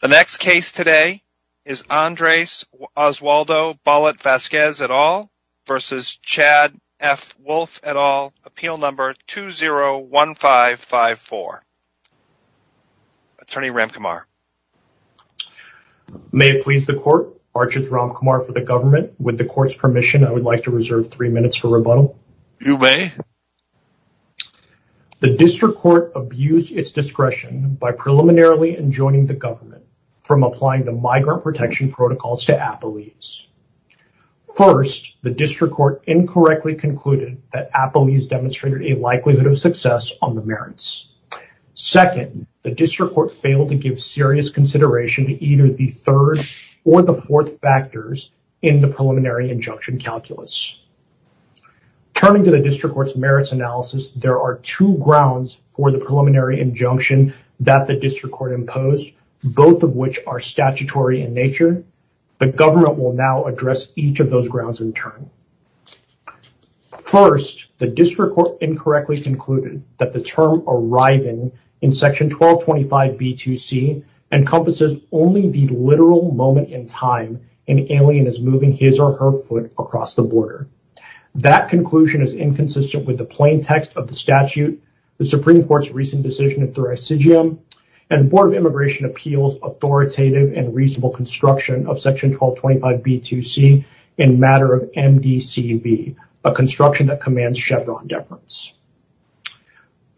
The next case today is Andres Oswaldo Bollat Vasquez et al. versus Chad F. Wolf et al. Appeal number 201554. Attorney Ramkumar. May it please the court, Archie Ramkumar for the government. With the court's permission, I would like to reserve three minutes for rebuttal. You may. The district court abused its discretion by preliminarily enjoining the government from applying the migrant protection protocols to Apoles. First, the district court incorrectly concluded that Apoles demonstrated a likelihood of success on the merits. Second, the district court failed to give serious consideration to either the third or the fourth factors in the preliminary injunction calculus. Turning to the district court's merits analysis, there are two grounds for the preliminary injunction that the district court imposed, both of which are statutory in nature. The government will now address each of those grounds in turn. First, the district court incorrectly concluded that the term arriving in section 1225B2C encompasses only the literal moment in time an alien is moving his or her foot across the border. That conclusion is inconsistent with the plain text of the statute, the Supreme Court's recent decision in Thurisidium, and the Board of Immigration Appeals authoritative and reasonable construction of section 1225B2C in matter of MDCV, a construction that commands Chevron deference.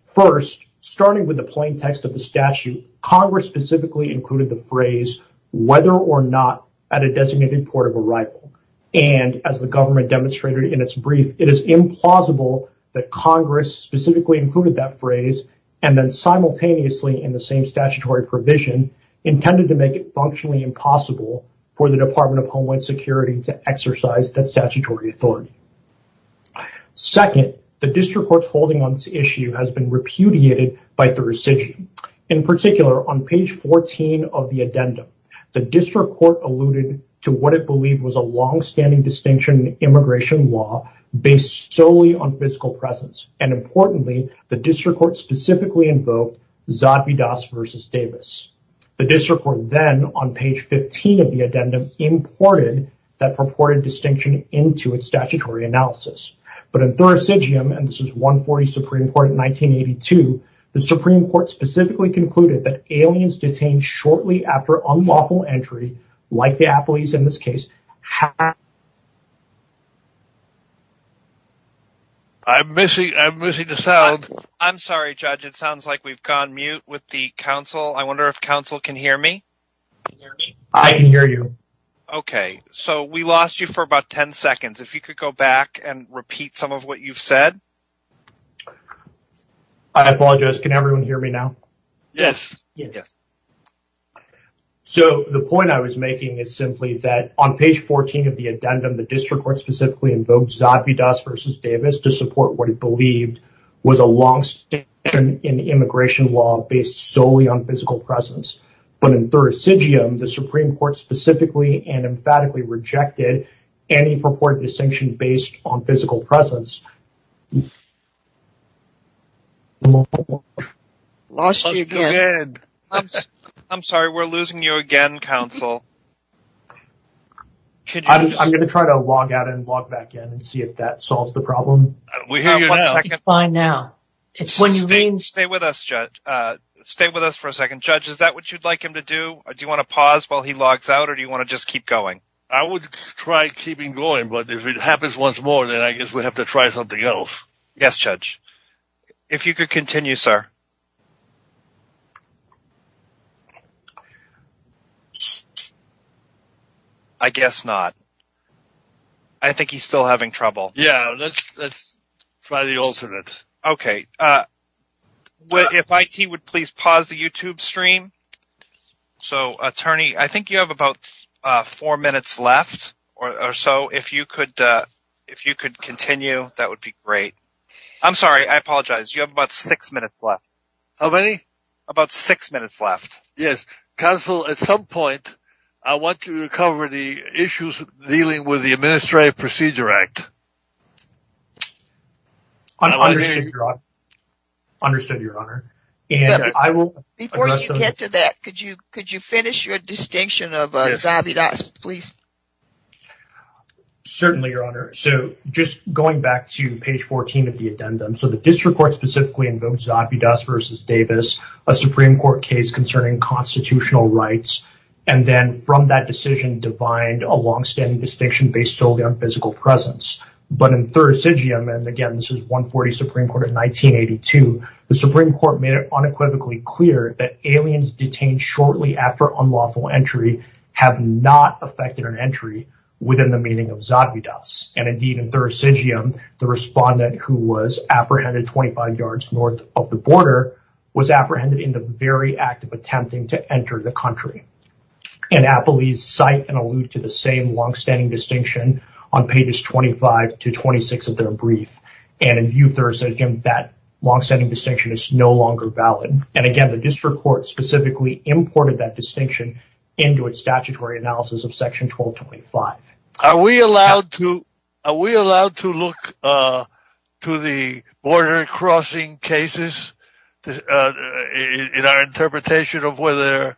First, starting with the plain text of the statute, Congress specifically included the its brief, it is implausible that Congress specifically included that phrase and then simultaneously in the same statutory provision intended to make it functionally impossible for the Department of Homeland Security to exercise that statutory authority. Second, the district court's holding on this issue has been repudiated by Thurisidium. In particular, on page 14 of the addendum, the district court alluded to what it believed was a long-standing distinction in immigration law based solely on physical presence. And importantly, the district court specifically invoked Zadvydas v. Davis. The district court then, on page 15 of the addendum, imported that purported distinction into its statutory analysis. But in Thurisidium, and this is 140 Supreme Court in 1982, the Supreme Court specifically concluded that aliens detained shortly after unlawful entry, like the affiliates in this case, have... I'm missing the sound. I'm sorry, Judge. It sounds like we've gone mute with the counsel. I wonder if counsel can hear me. I can hear you. Okay. So we lost you for about 10 seconds. If you could go back and repeat some of what you've said. I apologize. Can everyone hear me now? Yes. Yes. So the point I was making is simply that on page 14 of the addendum, the district court specifically invoked Zadvydas v. Davis to support what it believed was a long-standing in immigration law based solely on physical presence. But in Thurisidium, the Supreme Court specifically and emphatically rejected any purported distinction based on physical presence. Lost you again. I'm sorry. We're losing you again, counsel. I'm going to try to log out and log back in and see if that solves the problem. We hear you now. It's fine now. It's when you mean... Stay with us, Judge. Stay with us for a second. Judge, is that what you'd like him to do? Do you want to pause while he logs out or do you want to just keep going? I would try keeping going, but if it happens once more, then I guess we have to try something else. Yes, Judge. If you could continue, sir. I guess not. I think he's still having trouble. Yeah, let's try the alternate. Okay. If IT would please pause the YouTube stream. So, attorney, I think you have about four minutes left or so. If you could continue, that would be great. I'm sorry. I apologize. You have about six minutes left. How many? About six minutes left. Yes. Counsel, at some point, I want to cover the issues dealing with the Administrative Procedure Act. Understood, Your Honor. Understood, Your Honor. Before you get to that, could you finish your distinction of Zavidas, please? Certainly, Your Honor. So, just going back to page 14 of the addendum, so the district court specifically invoked Zavidas v. Davis, a Supreme Court case concerning constitutional rights, and then from that decision defined a long-standing distinction based solely on physical presence. But in Thurisidium, and again, this is 140 Supreme Court of 1982, the Supreme Court made it unequivocally clear that aliens detained shortly after unlawful entry have not affected an entry within the meaning of Zavidas. And indeed, in Thurisidium, the respondent who was apprehended 25 yards north of the border was apprehended in the very act of attempting to enter the country. And Appellees cite and allude to the same long-standing distinction on pages 25 to 26 of their brief. And in view of Thurisidium, that long-standing distinction is no longer valid. And again, the district court specifically imported that distinction into its statutory analysis of section 1225. Are we allowed to look to the border crossing cases in our interpretation of whether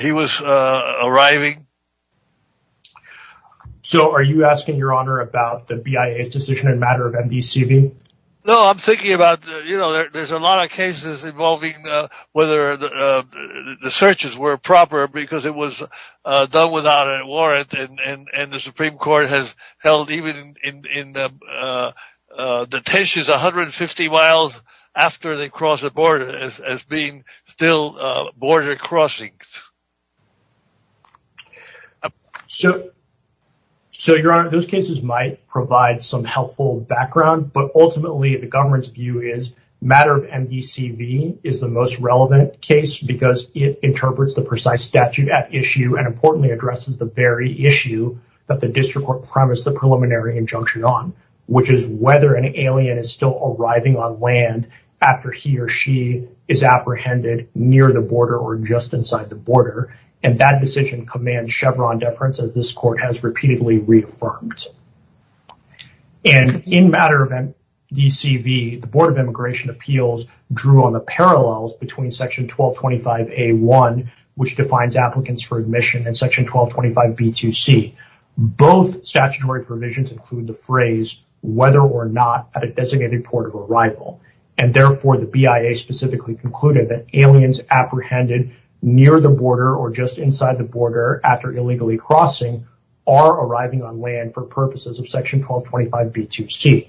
he was arriving? So are you asking your honor about the BIA's decision in matter of MDCV? No, I'm thinking about, you know, there's a lot of cases involving whether the searches were proper because it was done without a warrant and the Supreme Court has held even in the tensions 150 miles after they crossed the border as being still border crossings. So your honor, those cases might provide some helpful background, but ultimately the government's view is matter of MDCV is the most relevant case because it interprets the precise statute at issue and importantly addresses the very issue that the district court promised the preliminary injunction on, which is whether an alien is still arriving on land after he or she is apprehended near the border or just inside the border. And that decision commands Chevron deference as this court has repeatedly reaffirmed. And in matter of MDCV, the Board of Immigration Appeals drew on the parallels between section 1225A1, which defines applicants for admission and section 1225B2C. Both statutory provisions include the phrase whether or not at a designated port of arrival and therefore the BIA specifically concluded that aliens apprehended near the border or just inside the border after illegally crossing are arriving on land for purposes of section 1225B2C.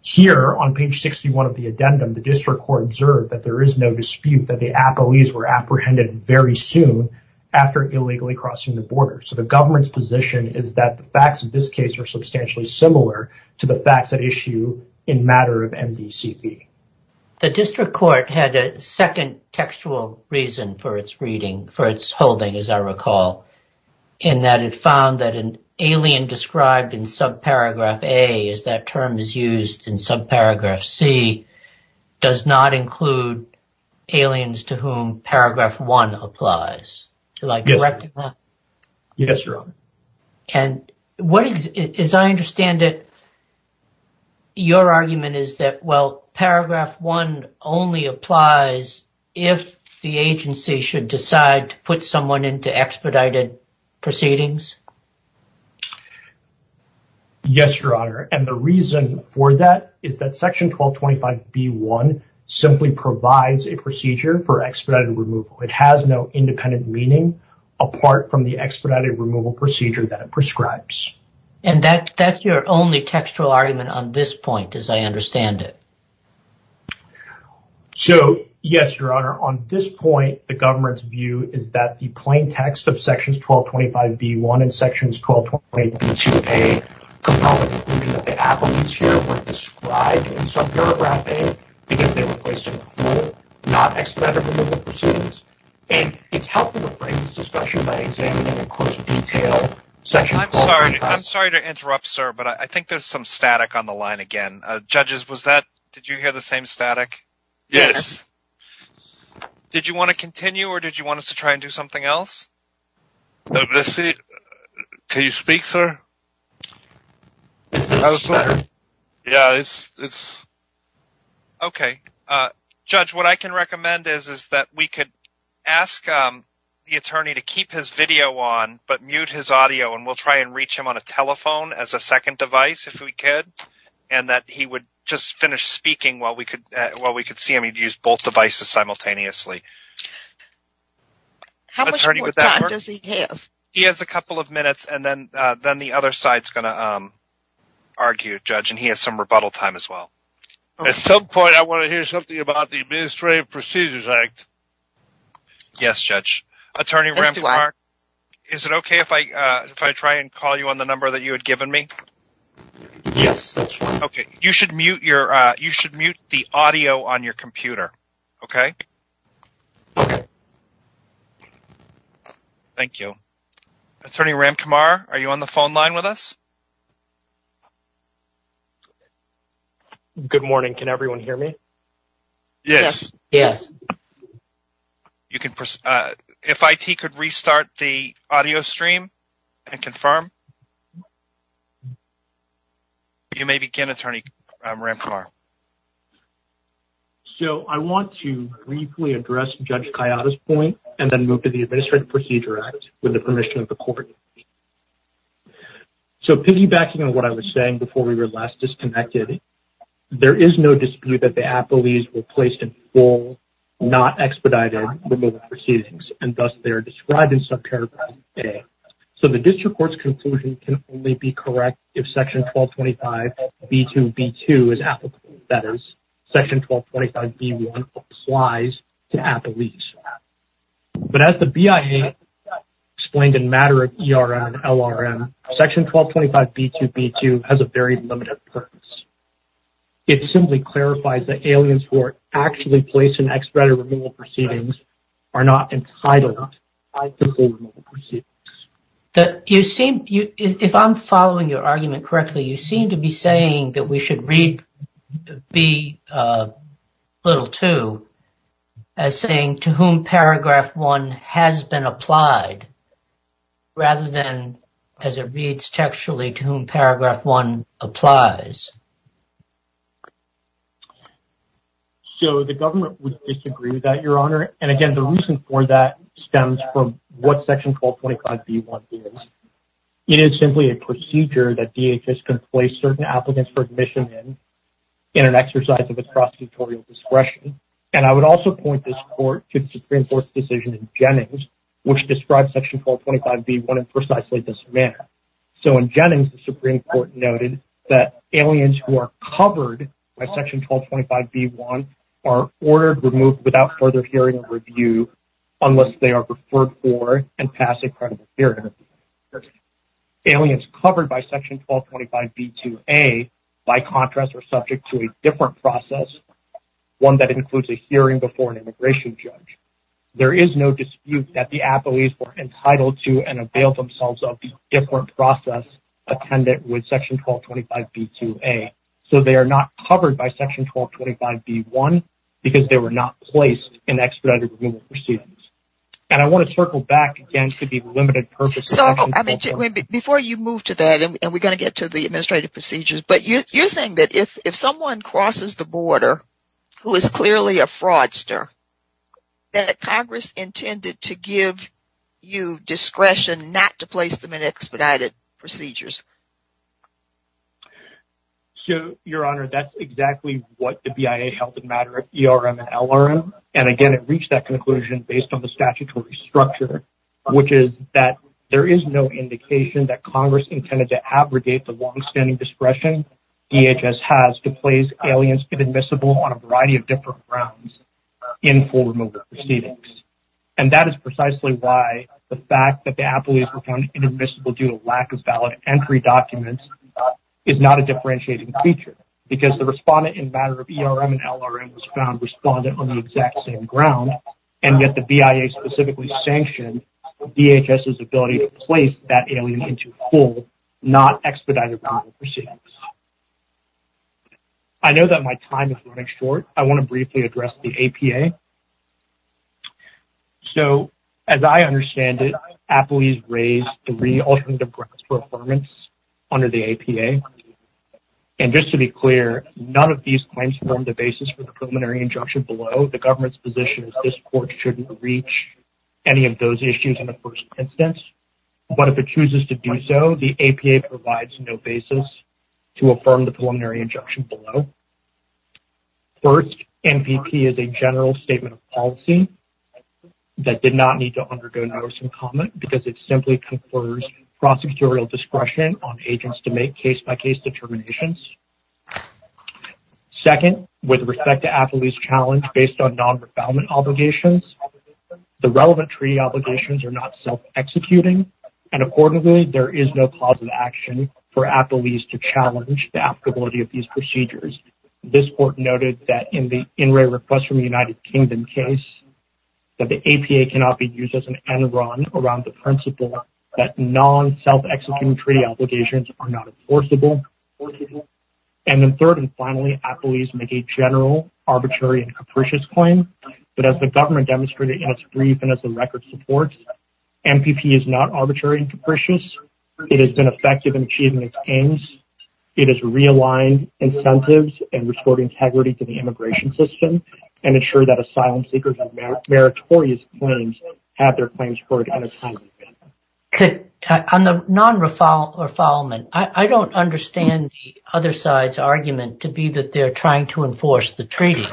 Here on page 61 of the addendum, the district court observed that there is no dispute that the appellees were apprehended very soon after illegally crossing the border. So the government's position is that the facts of this case are substantially similar to the facts at issue in matter of MDCV. The district court had a second textual reason for its reading, for its holding, as I recall, in that it found that an alien described in subparagraph A, as that term is used in subparagraph C, does not include aliens to whom paragraph one applies. Yes, Your Honor. And what is, as I understand it, your argument is that, well, paragraph one only applies if the agency should decide to put someone into expedited proceedings? Yes, Your Honor. And the reason for that is that section 1225B1 simply provides a procedure for expedited removal. It has no independent meaning apart from the expedited removal procedure that it prescribes. And that's your only textual argument on this point, as I understand it. So, yes, Your Honor. On this point, the government's view is that the plain text of sections 1225B1 and sections 1225B2A could not include that the appellees here were described in subparagraph A because they were placed in a full, non-expedited removal proceedings. And it's helpful to break this discussion by examining in closer detail section 1225B1. I'm sorry. I'm sorry to interrupt, sir. But I think there's some static on the line again. Judges, was that, did you hear the same static? Yes. Did you want to continue or did you want us to try and do something else? Let's see. Can you speak, sir? Is this better? Yeah, it's. OK, Judge, what I can recommend is, is that we could ask the attorney to keep his video on, but mute his audio and we'll try and reach him on a telephone as a second device, if we could. And that he would just finish speaking while we could, while we could see him. He'd use both devices simultaneously. How much more time does he have? He has a couple of minutes and then, then the other side's going to argue, Judge. And he has some rebuttal time as well. At some point, I want to hear something about the Administrative Procedures Act. Yes, Judge. Attorney Ramkumar, is it OK if I, if I try and call you on the number that you had given me? Yes, that's fine. OK, you should mute your, you should mute the audio on your computer. OK? Thank you. Attorney Ramkumar, are you on the phone line with us? Good morning. Can everyone hear me? Yes. Yes. You can, if IT could restart the audio stream and confirm. You may begin, Attorney Ramkumar. So, I want to briefly address Judge Kayada's point and then move to the Administrative Procedures Act with the permission of the court. So, piggybacking on what I was saying before we were last disconnected, there is no dispute that the appellees were placed in full, not expedited removal proceedings, and thus, they're described in subparagraph A. So, the district court's conclusion can only be correct if Section 1225B2B2 is applicable, that is, Section 1225B1 applies to appellees. But as the BIA explained in matter of ERM and LRM, Section 1225B2B2 has a very limited purpose. It simply clarifies that aliens who are actually placed in expedited removal proceedings are not entitled to full removal proceedings. You seem, if I'm following your argument correctly, you seem to be saying that we should read B2 as saying to whom paragraph one has been applied rather than as it reads textually to whom paragraph one applies. So, the government would disagree with that, Your Honor. And again, the reason for that stems from what Section 1225B1 is. It is simply a procedure that DHS can place certain applicants for admission in, in an exercise of its prosecutorial discretion. And I would also point this court to the Supreme Court's decision in Jennings, which describes Section 1225B1 in precisely this manner. So, in Jennings, the Supreme Court noted that aliens who are covered by Section 1225B1 are ordered removed without further hearing or review unless they are referred for and pass a credible hearing. Aliens covered by Section 1225B2A, by contrast, are subject to a different process, one that includes a hearing before an immigration judge. There is no dispute that the appellees were entitled to and avail themselves of the different process attended with Section 1225B2A. So, they are not covered by Section 1225B1 because they were not placed in expedited removal proceedings. And I want to circle back again to the limited purpose of Section 1225B1. Before you move to that, and we're going to get to the administrative procedures, but you're saying that if someone crosses the border who is clearly a fraudster, that Congress intended to give you discretion not to place them in expedited procedures. So, Your Honor, that's exactly what the BIA held in matter at ERM and LRM. And again, it reached that conclusion based on the statutory structure, which is that there is no indication that Congress intended to abrogate the longstanding discretion DHS has to place aliens inadmissible on a variety of different grounds in full removal proceedings. And that is precisely why the fact that the appellees were found inadmissible due to lack of valid entry documents is not a differentiating feature. Because the respondent in matter of ERM and LRM was found respondent on the exact same ground, and yet the BIA specifically sanctioned DHS's ability to place that alien into full, not expedited removal proceedings. I know that my time is running short. I want to briefly address the APA. So, as I understand it, appellees raised three alternative grounds for affirmance under the APA. And just to be clear, none of these claims form the basis for the preliminary injunction below. The government's position is this court shouldn't reach any of those issues in the first instance. But if it chooses to do so, the APA provides no basis to affirm the preliminary injunction below. First, MPP is a general statement of policy that did not need to undergo notice and comment because it simply confers prosecutorial discretion on agents to make case-by-case determinations. Second, with respect to appellee's challenge based on non-refoulement obligations, the relevant treaty obligations are not self-executing. And accordingly, there is no cause of action for appellees to challenge the applicability of these procedures. This court noted that in the in-ray request from the United Kingdom case, that the APA cannot be used as an end-run around the principle that non-self-executing treaty obligations are not enforceable. And then third and finally, appellees make a general arbitrary and capricious claim. But as the government demonstrated in its brief and as the record supports, MPP is not arbitrary and capricious. It has been effective in achieving its aims. It has realigned incentives and restored integrity to the immigration system and ensured that asylum seekers have meritorious claims at their claims court. On the non-refoulement, I don't understand the other side's argument to be that they're trying to enforce the treaty.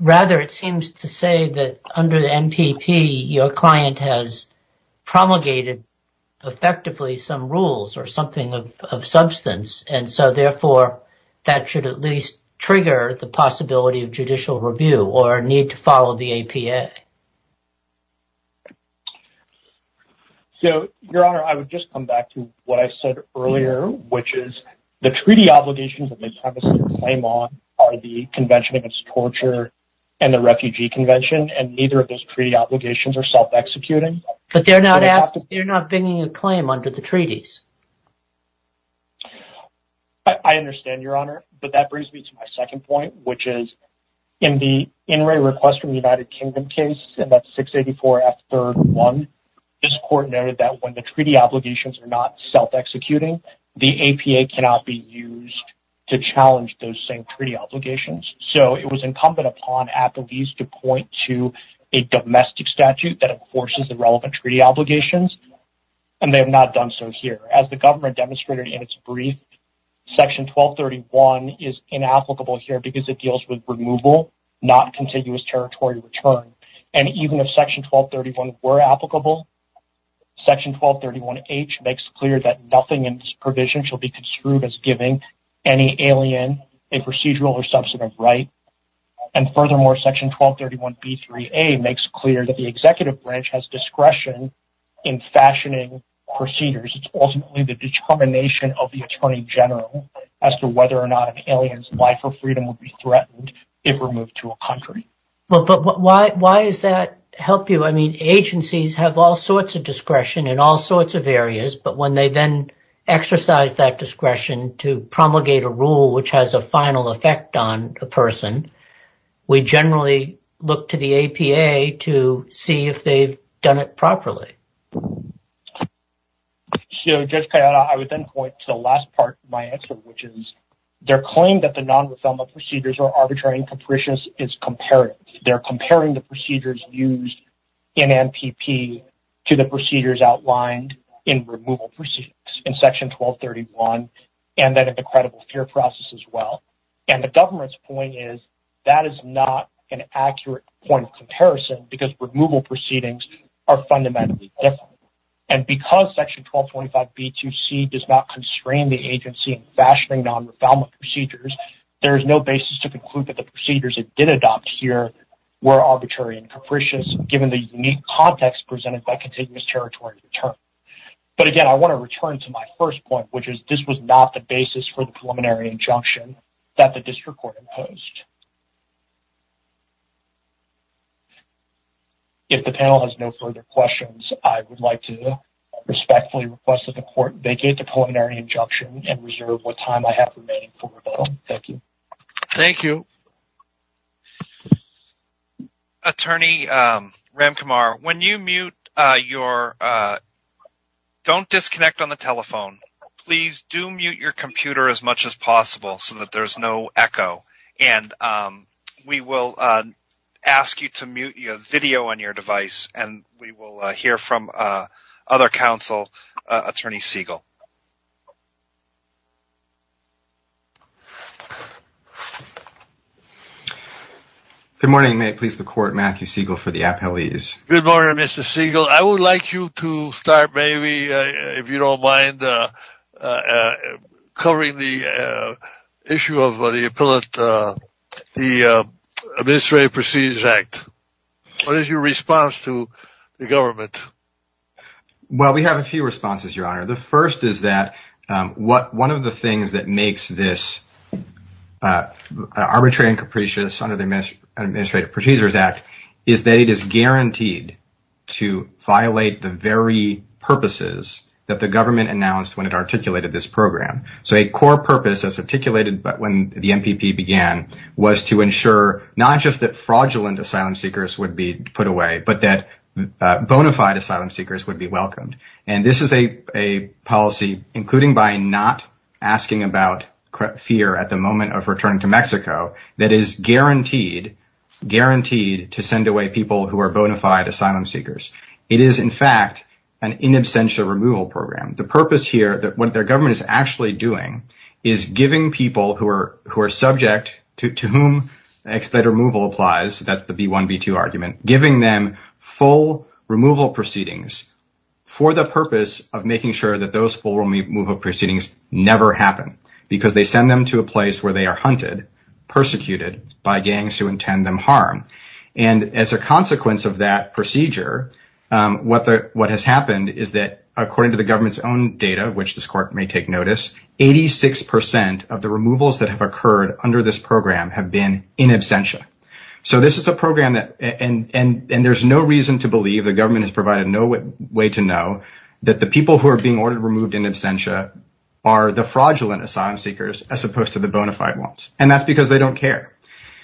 Rather, it seems to say that under the MPP, your client has promulgated effectively some rules or something of substance. And so, therefore, that should at least trigger the possibility of judicial review or need to follow the APA. Your Honor, I would just come back to what I said earlier, which is the treaty obligations that they have a claim on are the Convention Against Torture and the Refugee Convention. And neither of those treaty obligations are self-executing. But they're not bringing a claim under the treaties. I understand, Your Honor, but that brings me to my second point, which is in the in-ray request from the United Kingdom case, and that's 684F3-1, this court noted that when the treaty obligations are not self-executing, the APA cannot be used to challenge those same treaty obligations. So, it was incumbent upon appellees to point to a domestic statute that enforces the relevant treaty obligations, and they have not done so here. As the government demonstrated in its brief, Section 1231 is inapplicable here because it deals with removal, not contiguous territory return. And even if Section 1231 were applicable, Section 1231H makes clear that nothing in this provision shall be construed as giving any alien a procedural or substantive right. And furthermore, Section 1231B3A makes clear that the Executive Branch has discretion in fashioning procedures. It's ultimately the determination of the Attorney General as to whether or not an alien's life or freedom would be threatened if removed to a country. But why does that help you? I mean, agencies have all sorts of discretion in all sorts of areas, but when they then exercise that discretion to promulgate a rule which has a final effect on a person, we generally look to the APA to see if they've done it properly. So, Judge Cayetano, I would then point to the last part of my answer, which is their claim that the non-refelment procedures are arbitrary and capricious is comparative. They're comparing the procedures used in NPP to the procedures outlined in removal proceedings in Section 1231 and that of the credible fear process as well. And the government's point is that is not an accurate point of comparison because removal proceedings are fundamentally different. And because Section 1225B2C does not constrain the agency in fashioning non-refelment procedures, there is no basis to conclude that the procedures it did adopt here were arbitrary and capricious, given the unique context presented by continuous territory return. But again, I want to return to my first point, which is this was not the basis for the preliminary injunction that the district court imposed. If the panel has no further questions, I would like to respectfully request that the court vacate the preliminary injunction and reserve what time I have remaining for rebuttal. Thank you. Thank you. Attorney Ramkumar, when you mute your... Don't disconnect on the telephone. Please do mute your computer as much as possible so that there's no echo. And we will ask you to mute your video on your device and we will hear from other counsel, Attorney Siegel. Good morning. May it please the court, Matthew Siegel for the appellees. Good morning, Mr. Siegel. I would like you to start maybe, if you don't mind, covering the issue of the Administrative Procedures Act. What is your response to the government? Well, we have a few responses, Your Honor. The first is that one of the things that makes this arbitrary and capricious under the Administrative Procedures Act is that it is guaranteed to violate the very purposes that the government announced when it articulated this program. So a core purpose as articulated when the MPP began was to ensure not just that fraudulent asylum seekers would be put away, but that bona fide asylum seekers would be welcomed. And this is a policy, including by not asking about fear at the moment of returning to Mexico, that is guaranteed to send away people who are bona fide asylum seekers. It is, in fact, an in absentia removal program. The purpose here, what the government is actually doing, is giving people who are subject, to whom expletive removal applies, that's the B1, B2 argument, giving them full removal proceedings for the purpose of making sure that those full removal proceedings never happen, because they send them to a place where they are hunted, persecuted by gangs who intend them harm. And as a consequence of that procedure, what has happened is that, according to the government's own data, of which this court may take notice, 86% of the removals that have occurred under this program have been in absentia. So this is a program that, and there's no reason to believe, the government has provided no way to know, that the people who are being ordered removed in absentia are the fraudulent asylum seekers as opposed to the bona fide ones. And that's because they don't care.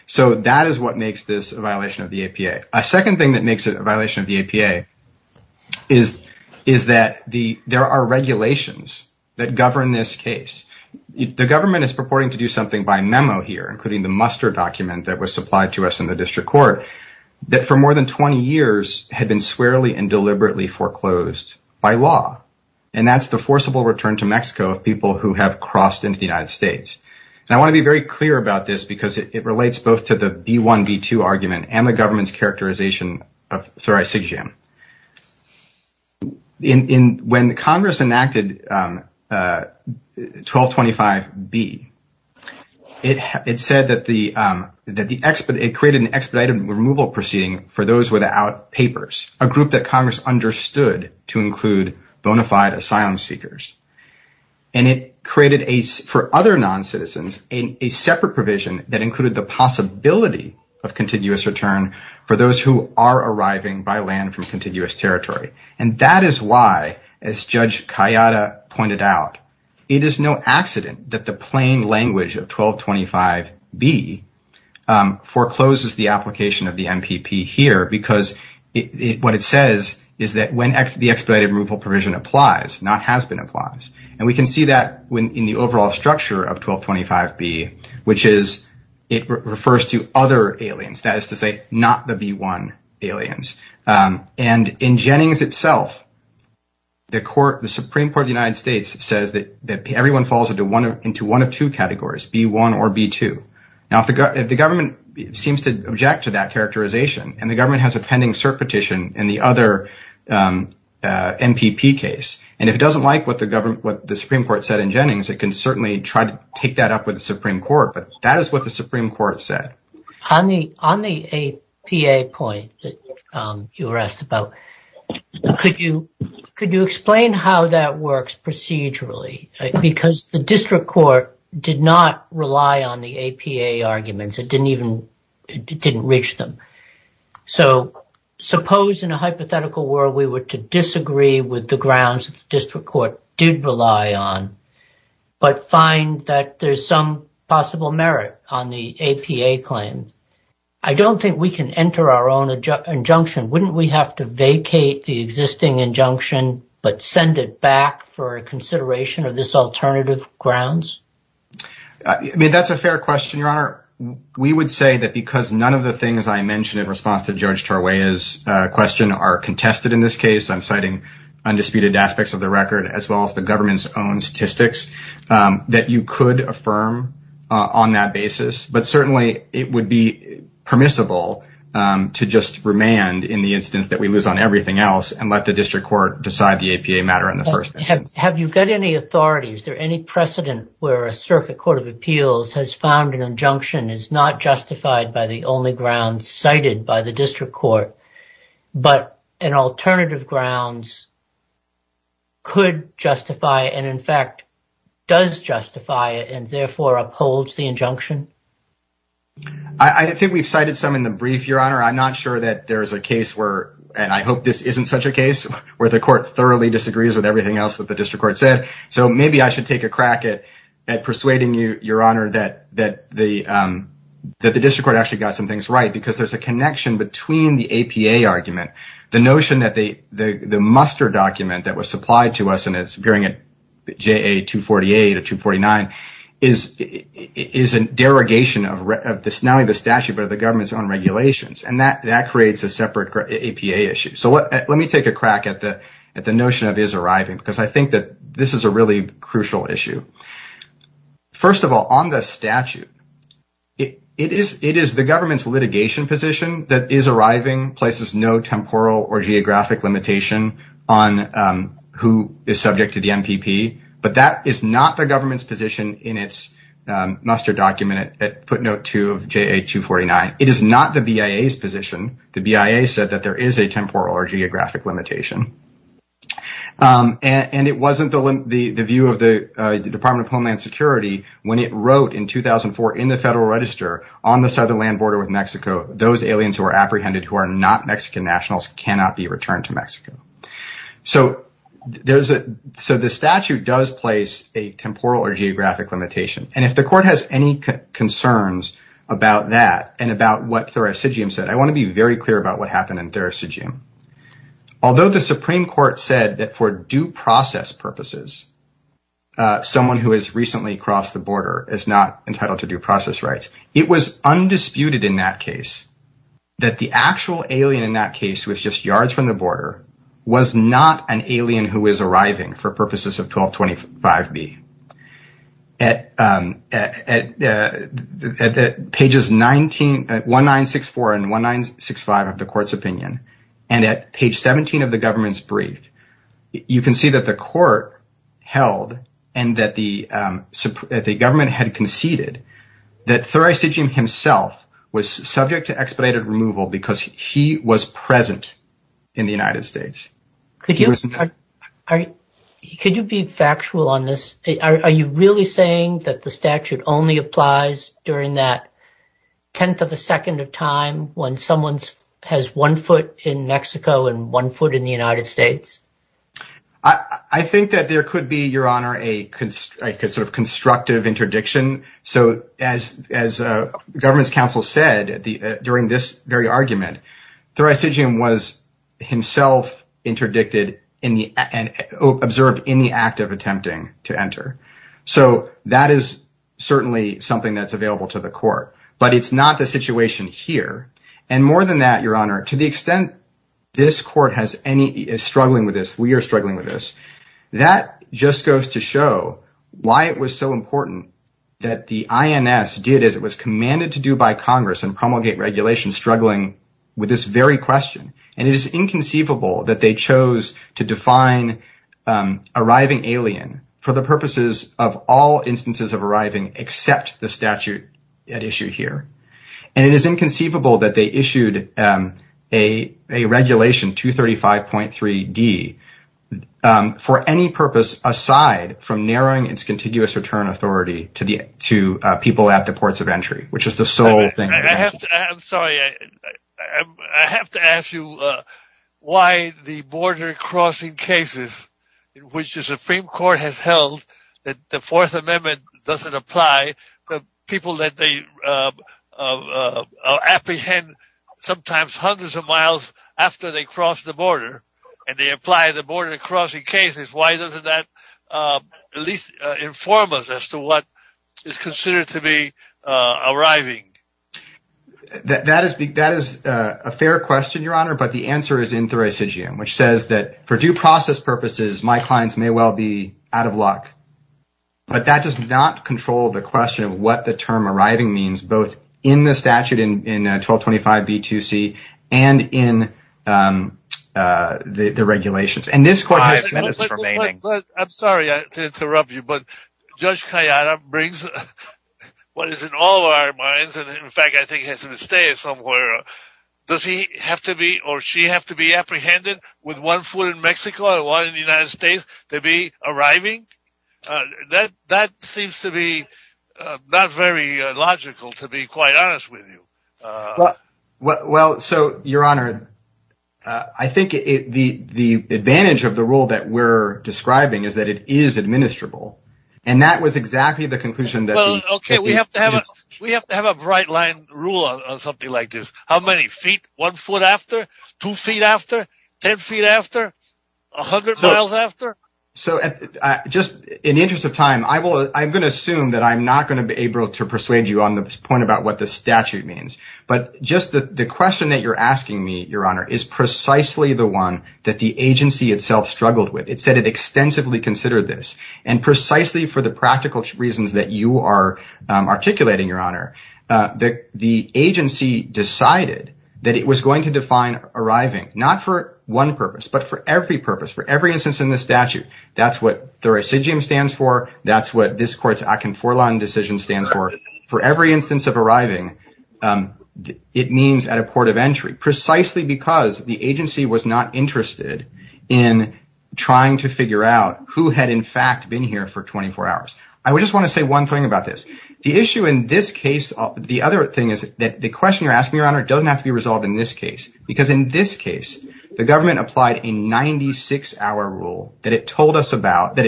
So that is what makes this a violation of the APA. A second thing that makes it a violation of the APA is that there are regulations that govern this case. The government is purporting to do something by memo here, including the muster document that was supplied to us in the district court, that for more than 20 years had been swearly and deliberately foreclosed by law. And that's the forcible return to Mexico of people who have crossed into the United States. And I want to be very clear about this because it relates both to the B-1, B-2 argument and the government's characterization of thoracic jam. When Congress enacted 1225B, it said that the, it created an expedited removal proceeding for those without papers, a group that Congress understood to include bona fide asylum seekers. And it created for other non-citizens a separate provision that included the possibility of contiguous return for those who are arriving by land from contiguous territory. And that is why, as Judge Kayada pointed out, it is no accident that the plain language of 1225B forecloses the application of the MPP here because what it says is that when the expedited removal provision applies, not has been applied. And we can see that in the overall structure of 1225B, which is, it refers to other aliens, that is to say, not the B-1 aliens. And in Jennings itself, the Supreme Court of the United States says that everyone falls into one of two categories, B-1 or B-2. Now, if the government seems to object to that characterization, and the government has a pending cert petition in the other MPP case, and if it doesn't like what the Supreme Court said in Jennings, it can certainly try to take that up with the Supreme Court. But that is what the Supreme Court said. On the APA point that you were asked about, could you explain how that works procedurally? Because the district court did not rely on the APA arguments. It didn't reach them. So, suppose in a hypothetical world, we were to disagree with the grounds that the district court did rely on, but find that there's some possible merit on the APA claim. I don't think we can enter our own injunction. Wouldn't we have to vacate the existing injunction, but send it back for consideration of this alternative grounds? That's a fair question, Your Honor. We would say that because none of the things I mentioned in response to Judge Tarweya's question are contested in this case. I'm citing undisputed aspects of the record, as well as the government's own statistics, that you could affirm on that basis. But certainly, it would be permissible to just remand in the instance that we lose on everything else, and let the district court decide the APA matter in the first instance. Have you got any authority? Is there any precedent where a circuit court of appeals has found an injunction is not justified by the only grounds cited by the district court, but an alternative grounds could justify, and in fact does justify, and therefore upholds the injunction? I think we've cited some in the brief, Your Honor. I'm not sure that there's a case where, and I hope this isn't such a case, where the court thoroughly disagrees with everything else that the district court said. So maybe I should take a crack at persuading you, Your Honor, that the district court actually got some things right, because there's a connection between the APA argument, the notion that the muster document that was supplied to us, and it's appearing at JA 248 or 249, is a derogation of not only the statute, but of the government's own regulations, and that creates a separate APA issue. So let me take a crack at the notion of his arriving, because I think that this is a really crucial issue. First of all, on the statute, it is the government's litigation position that is arriving, places no temporal or geographic limitation on who is subject to the MPP, but that is not the government's position in its muster document at footnote 2 of JA 249. It is not the BIA's position. The BIA said that there is a temporal or geographic limitation. And it wasn't the view of the Department of Homeland Security when it wrote in 2004 in the Federal Register on the southern land border with Mexico, those aliens who are apprehended who are not Mexican nationals cannot be returned to Mexico. So the statute does place a temporal or geographic limitation. And if the court has any concerns about that, and about what Therocigium said, I want to be very clear about what happened in Therocigium. Although the Supreme Court said that for due process purposes, someone who has recently crossed the border is not entitled to due process rights. It was undisputed in that case that the actual alien in that case who was just yards from the border was not an alien who is arriving for purposes of 1225B. At pages 19... at 1964 and 1965 of the court's opinion, and at page 17 of the government's brief, you can see that the court held and that the government had conceded that Therocigium himself was subject to expedited removal because he was present in the United States. Could you be factual on this? Are you really saying that the statute only applies when someone has one foot in Mexico and one foot in the United States? I think that there could be, Your Honor, a sort of constructive interdiction. So as government's counsel said during this very argument, Therocigium was himself interdicted and observed in the act of attempting to enter. So that is certainly something that's available to the court. But it's not the situation here. And more than that, Your Honor, to the extent this court is struggling with this, we are struggling with this, that just goes to show why it was so important that the INS did as it was commanded to do by Congress and promulgate regulations struggling with this very question. And it is inconceivable that they chose to define arriving alien for the purposes of all instances of arriving except the statute at issue here. And it is inconceivable that they issued a regulation, 235.3d, for any purpose aside from narrowing its contiguous return authority to people at the ports of entry, which is the sole thing. I'm sorry. I have to ask you why the border crossing cases, which the Supreme Court has held that the Fourth Amendment doesn't apply, the people that they apprehend sometimes hundreds of miles after they cross the border and they apply the border crossing cases, why doesn't that at least inform us as to what is considered to be arriving? That is a fair question, Your Honor, but the answer is in Thuracidium, which says that for due process purposes, my clients may well be out of luck. But that does not control the question of what the term arriving means, both in the statute in 1225b-2c and in the regulations. And this Court has five minutes remaining. I'm sorry to interrupt you, but Judge Kayada brings what is in all of our minds, and in fact I think has to stay somewhere. Does he have to be or she have to be apprehended with one foot in Mexico and one in the United States to be arriving? That seems to be not very logical to be quite honest with you. Well, so, Your Honor, I think the advantage of the rule that we're describing is that it is administrable. And that was exactly the conclusion that we came to. We have to have a bright-line rule on something like this. How many feet? One foot after? Two feet after? Ten feet after? A hundred miles after? So, just in the interest of time, I'm going to assume that I'm not going to be able to persuade you on the point about what the statute means. But just the question that you're asking me, Your Honor, is precisely the one that the agency itself struggled with. It said it extensively considered this. And precisely for the practical reasons that you are articulating, Your Honor, the agency decided that it was going to define arriving not for one purpose, but for every purpose, for every instance in the statute. That's what the residuum stands for. That's what this court's decision stands for. For every instance of arriving, it means at a port of entry. Precisely because the agency was not interested in trying to figure out who had, in fact, been here for 24 hours. I just want to say one thing about this. The issue in this case, the other thing is that the question that you're asking, Your Honor, doesn't have to be resolved in this case. Because in this case, the government applied a 96-hour rule that it told us about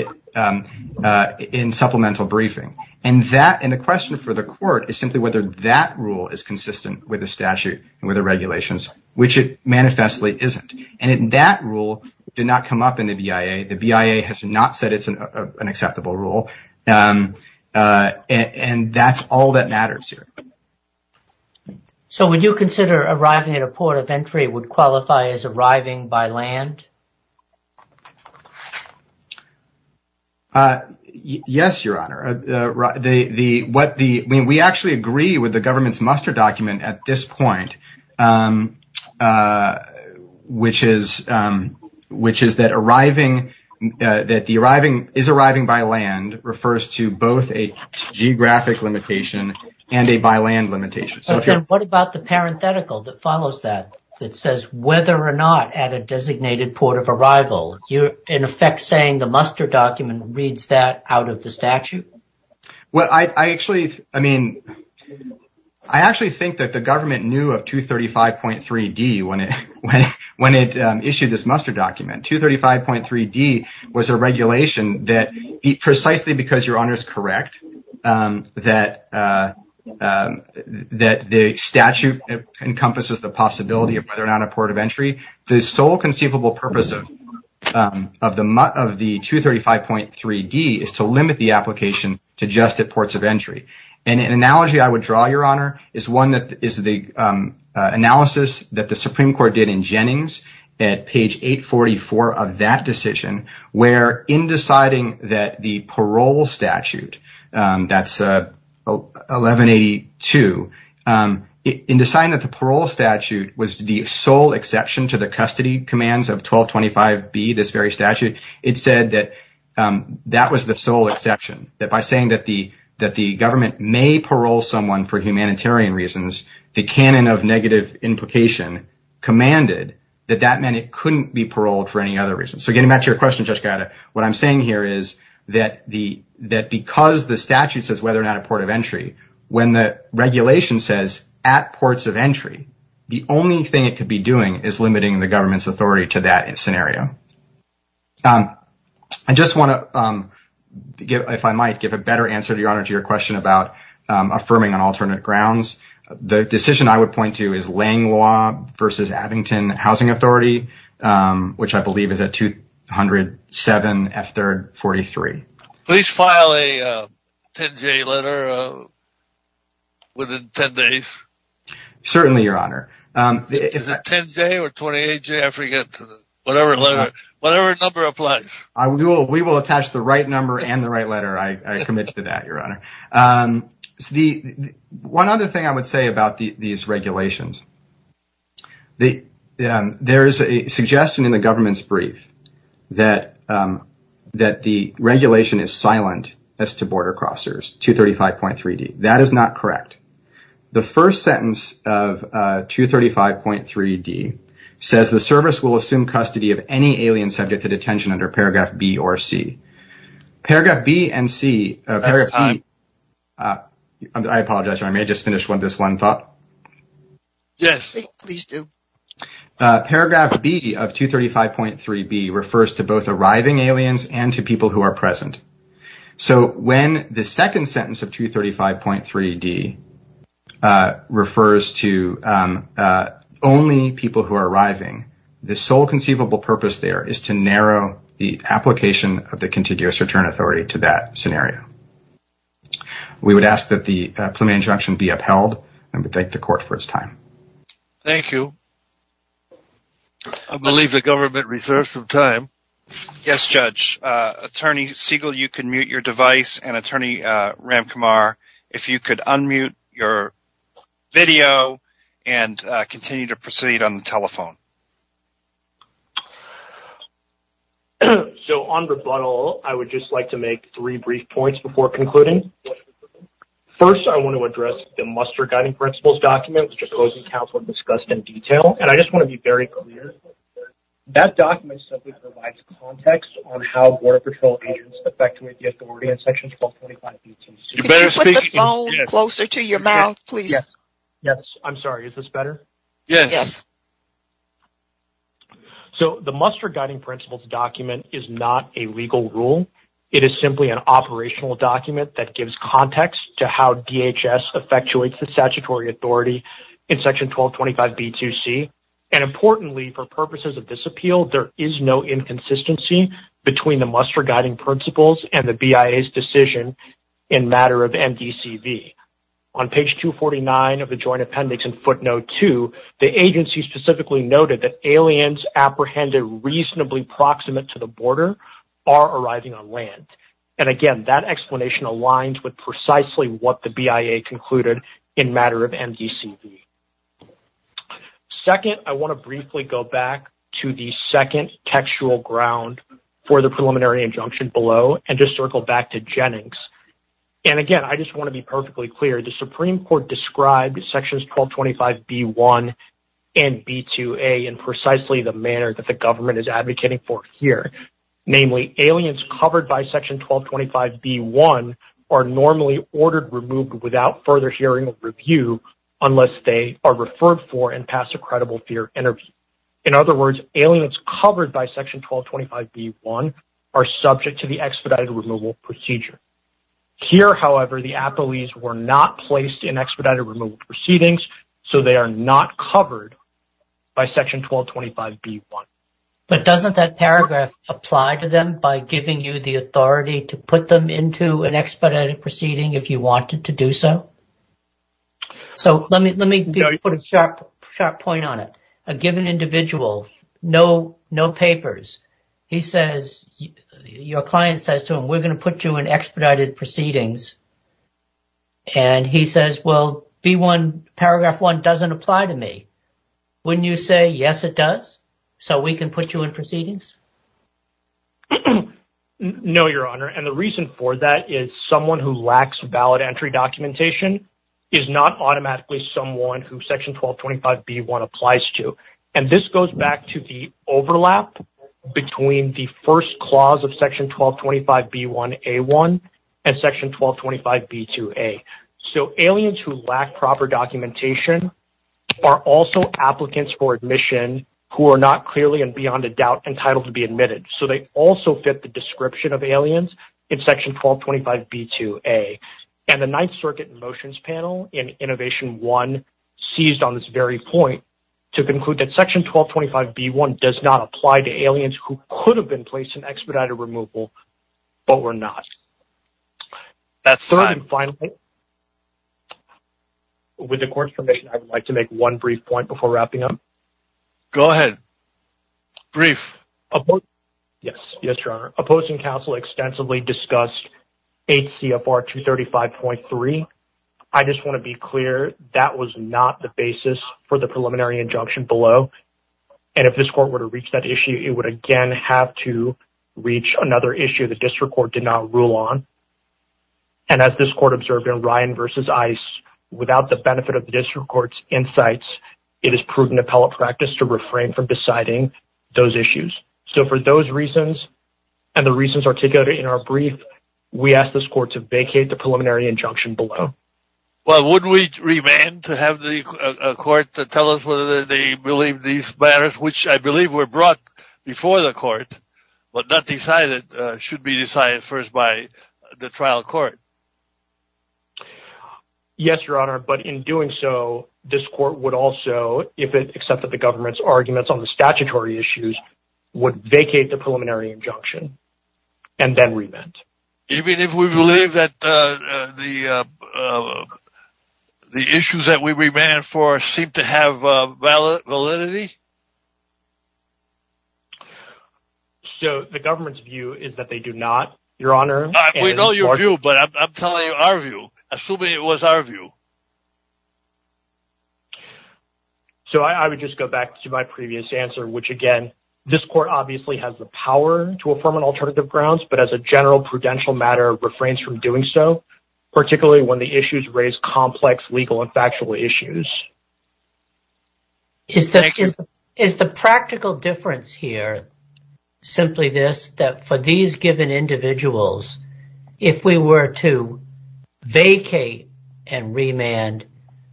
in supplemental briefing. And the question for the court is simply whether that rule is consistent with the statute and with the regulations, which it manifestly isn't. And that rule did not come up in the BIA. The BIA has not said it's an acceptable rule. And that's all that matters here. So would you consider arriving at a port of entry would qualify as arriving by land? Yes, Your Honor. We actually agree with the government's muster document at this point, which is that arriving, is arriving by land, refers to both a geographic limitation and a by land limitation. What about the parenthetical that follows that, that says whether or not at a designated port of arrival, you're in effect saying the muster document reads that out of the statute? Well, I actually, I mean, I actually think that the government knew of 235.3d when it issued this muster document. 235.3d was a regulation that, precisely because Your Honor is correct, that the statute encompasses the possibility of whether or not a port of entry, the sole conceivable purpose of the 235.3d is to limit the application to just at ports of entry. And an analogy I would draw, Your Honor, is one that is the analysis that the Supreme Court did in Jennings at page 844 of that decision where in deciding that the parole statute, that's 1182, in deciding that the parole statute was the sole exception to the custody commands of 1225b, this very statute, it said that that was the sole exception. That by saying that the government may parole someone for humanitarian reasons, the canon of negative implication commanded that that meant it couldn't be paroled for any other reason. So getting back to your What I'm saying here is that because the statute says whether or not a port of entry, when the regulation says at ports of entry, the only thing it could be doing is limiting the government's authority to that scenario. I just want to if I might, give a better answer, Your Honor, to your question about affirming on alternate grounds. The decision I would point to is Lang Law versus Abington Housing Authority, which I believe is at 207 F 3rd 43. Please file a 10J letter within 10 days. Certainly, Your Honor. Is it 10J or 28J? I forget. Whatever number applies. We will attach the right number and the right letter. I commit to that, Your Honor. One other thing I would say about these regulations. There is a suggestion in the government's brief that the regulation is silent as to border crossers, 235.3D. That is not correct. The first sentence of 235.3D says the service will assume custody of any alien subject to detention under paragraph B or C. Paragraph B and C That's time. I apologize, Your Honor. I may just finish this one thought. Yes. Paragraph B of 235.3B refers to both arriving aliens and to people who are present. When the second sentence of 235.3D refers to only people who are arriving, the sole conceivable purpose there is to narrow the application of the contiguous return authority to that scenario. We would ask that the preliminary injunction be upheld. We thank the court for its time. Thank you. I believe the government reserves some time. Yes, Judge. Attorney Siegel, you can mute your device and Attorney Ramkumar, if you could unmute your video and continue to proceed on the telephone. On rebuttal, I would just like to make three brief points before concluding. First, I want to address the Muster Guiding Principles document, which the closing counsel discussed in detail, and I just want to be very clear that document simply provides context on how Border Patrol agents effectuate the authority in Section 1225. Can you put the phone closer to your mouth, please? Yes. I'm sorry. Is this better? Yes. So, the Muster Guiding Principles document is not a legal rule. It is simply an operational document that gives context to how DHS effectuates the statutory authority in Section 1225 B2C. And importantly, for purposes of this appeal, there is no inconsistency between the Muster Guiding Principles and the BIA's decision in matter of MDCV. On page 249 of the joint appendix in footnote 2, the agency specifically noted that aliens apprehended reasonably proximate to the border are arriving on land. And again, that explanation aligns with precisely what the BIA concluded in matter of MDCV. Second, I want to briefly go back to the second textual ground for the preliminary injunction below and just circle back to Jennings. And again, I just want to be perfectly clear. The Supreme Court described Sections 1225 B1 and B2A in precisely the manner that the government is advocating for here. Namely, aliens covered by Section 1225 B1 are normally ordered removed without further hearing or review unless they are referred for and passed a credible fear interview. In other words, aliens covered by Section 1225 B1 are subject to the expedited removal procedure. Here, however, the appellees were not placed in expedited removal proceedings, so they are not covered by But doesn't that paragraph apply to them by giving you the authority to put them into an expedited proceeding if you wanted to do so? So, let me put a sharp point on it. A given individual, no papers, he says, your client says to him, we're going to put you in expedited proceedings. And he says, well, B1, Paragraph 1 doesn't apply to me. Wouldn't you say, yes, it does, so we can put you in proceedings? No, Your Honor. And the reason for that is someone who lacks valid entry documentation is not automatically someone who Section 1225 B1 applies to. And this goes back to the overlap between the first clause of Section 1225 B1 A1 and Section 1225 B2 A. So, aliens who lack proper documentation are also applicants for admission who are not clearly and beyond a doubt entitled to be admitted. So, they also fit the description of aliens in Section 1225 B2 A. And the Ninth Circuit Motions Panel in Innovation 1 seized on this very point to conclude that Section 1225 B1 does not apply to aliens who could have been placed in expedited removal, but were not. Third and finally, with the Court's permission, I would like to make one brief point before wrapping up. Go ahead. Brief. Yes, Your Honor. Opposing counsel extensively discussed 8 CFR 235.3. I just want to be clear that was not the basis for the preliminary injunction below. And if this Court were to reach that issue, it would again have to reach another issue the District Court did not rule on. And as this Court observed in Ryan v. Ice, without the benefit of the District Court's insights, it is prudent appellate practice to refrain from deciding those issues. So, for those reasons and the reasons articulated in our brief, we ask this Court to vacate the preliminary injunction below. Well, would we remand to have the Court tell us whether they believe these matters, which I believe were brought before the Court but not decided, should be decided first by the trial court? Yes, Your Honor. But in doing so, this Court would also, if it accepted the government's arguments on the statutory issues, would vacate the preliminary injunction and then remand. Even if we believe that the issues that we remand for seem to have validity? So, the government's view is that they do not, Your Honor. We know your view, but I'm telling you our view, assuming it was our view. So, I would just go back to my previous answer, which again, this Court obviously has the power to affirm on alternative grounds, but as a general prudential matter refrains from doing so, particularly when the issues raise complex legal and factual issues. Is that correct? Is the practical difference here simply this, that for these given individuals, if we were to vacate and remand,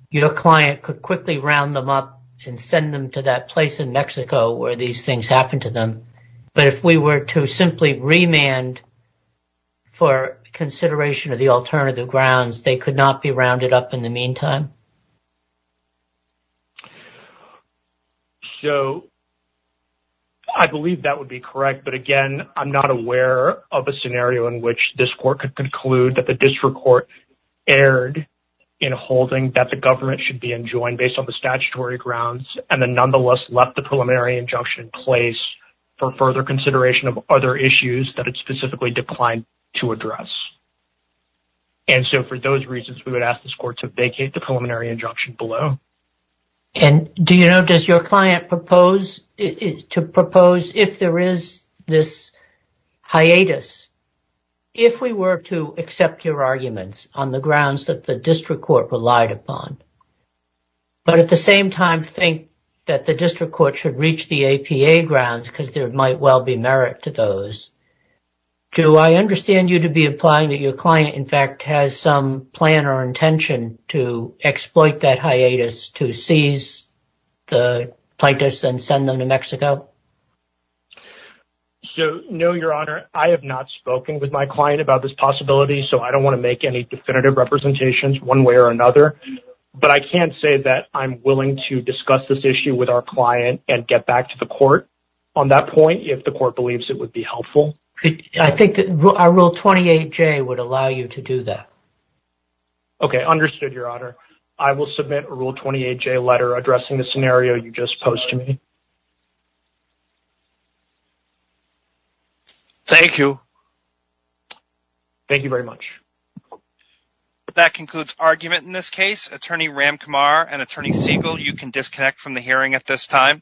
your client could quickly round them up and send them to that place in Mexico where these things happened to them, but if we were to simply remand for consideration of the alternative grounds, they could not be rounded up in the meantime? So, I believe that would be correct, but again, I'm not aware of a scenario in which this Court could conclude that the district court erred in holding that the government should be enjoined based on the statutory grounds and then nonetheless left the preliminary injunction in place for further consideration of other issues that it specifically declined to address. And so, for those reasons, we would ask this Court to vacate the preliminary injunction below. And, do you know, does your client propose to propose, if there is this hiatus, if we were to accept your arguments on the grounds that the district court relied upon but at the same time think that the district court should reach the APA grounds because there might well be merit to those, do I understand you to be implying that your client, in fact, has some plan or intention to exploit that hiatus to seize the plaintiffs and send them to Mexico? So, no, Your Honor. I have not spoken with my client about this possibility so I don't want to make any definitive representations one way or another. But I can say that I'm willing to discuss this issue with our client and get back to the Court on that point if the Court believes it would be helpful. I think that our Rule 28J would allow you to do that. Okay, understood, Your Honor. I will submit a Rule 28J letter addressing the scenario you just posed to me. Thank you. Thank you very much. That concludes argument in this case. Attorney Ram Kumar and Attorney Siegel, you can disconnect from the hearing at this time.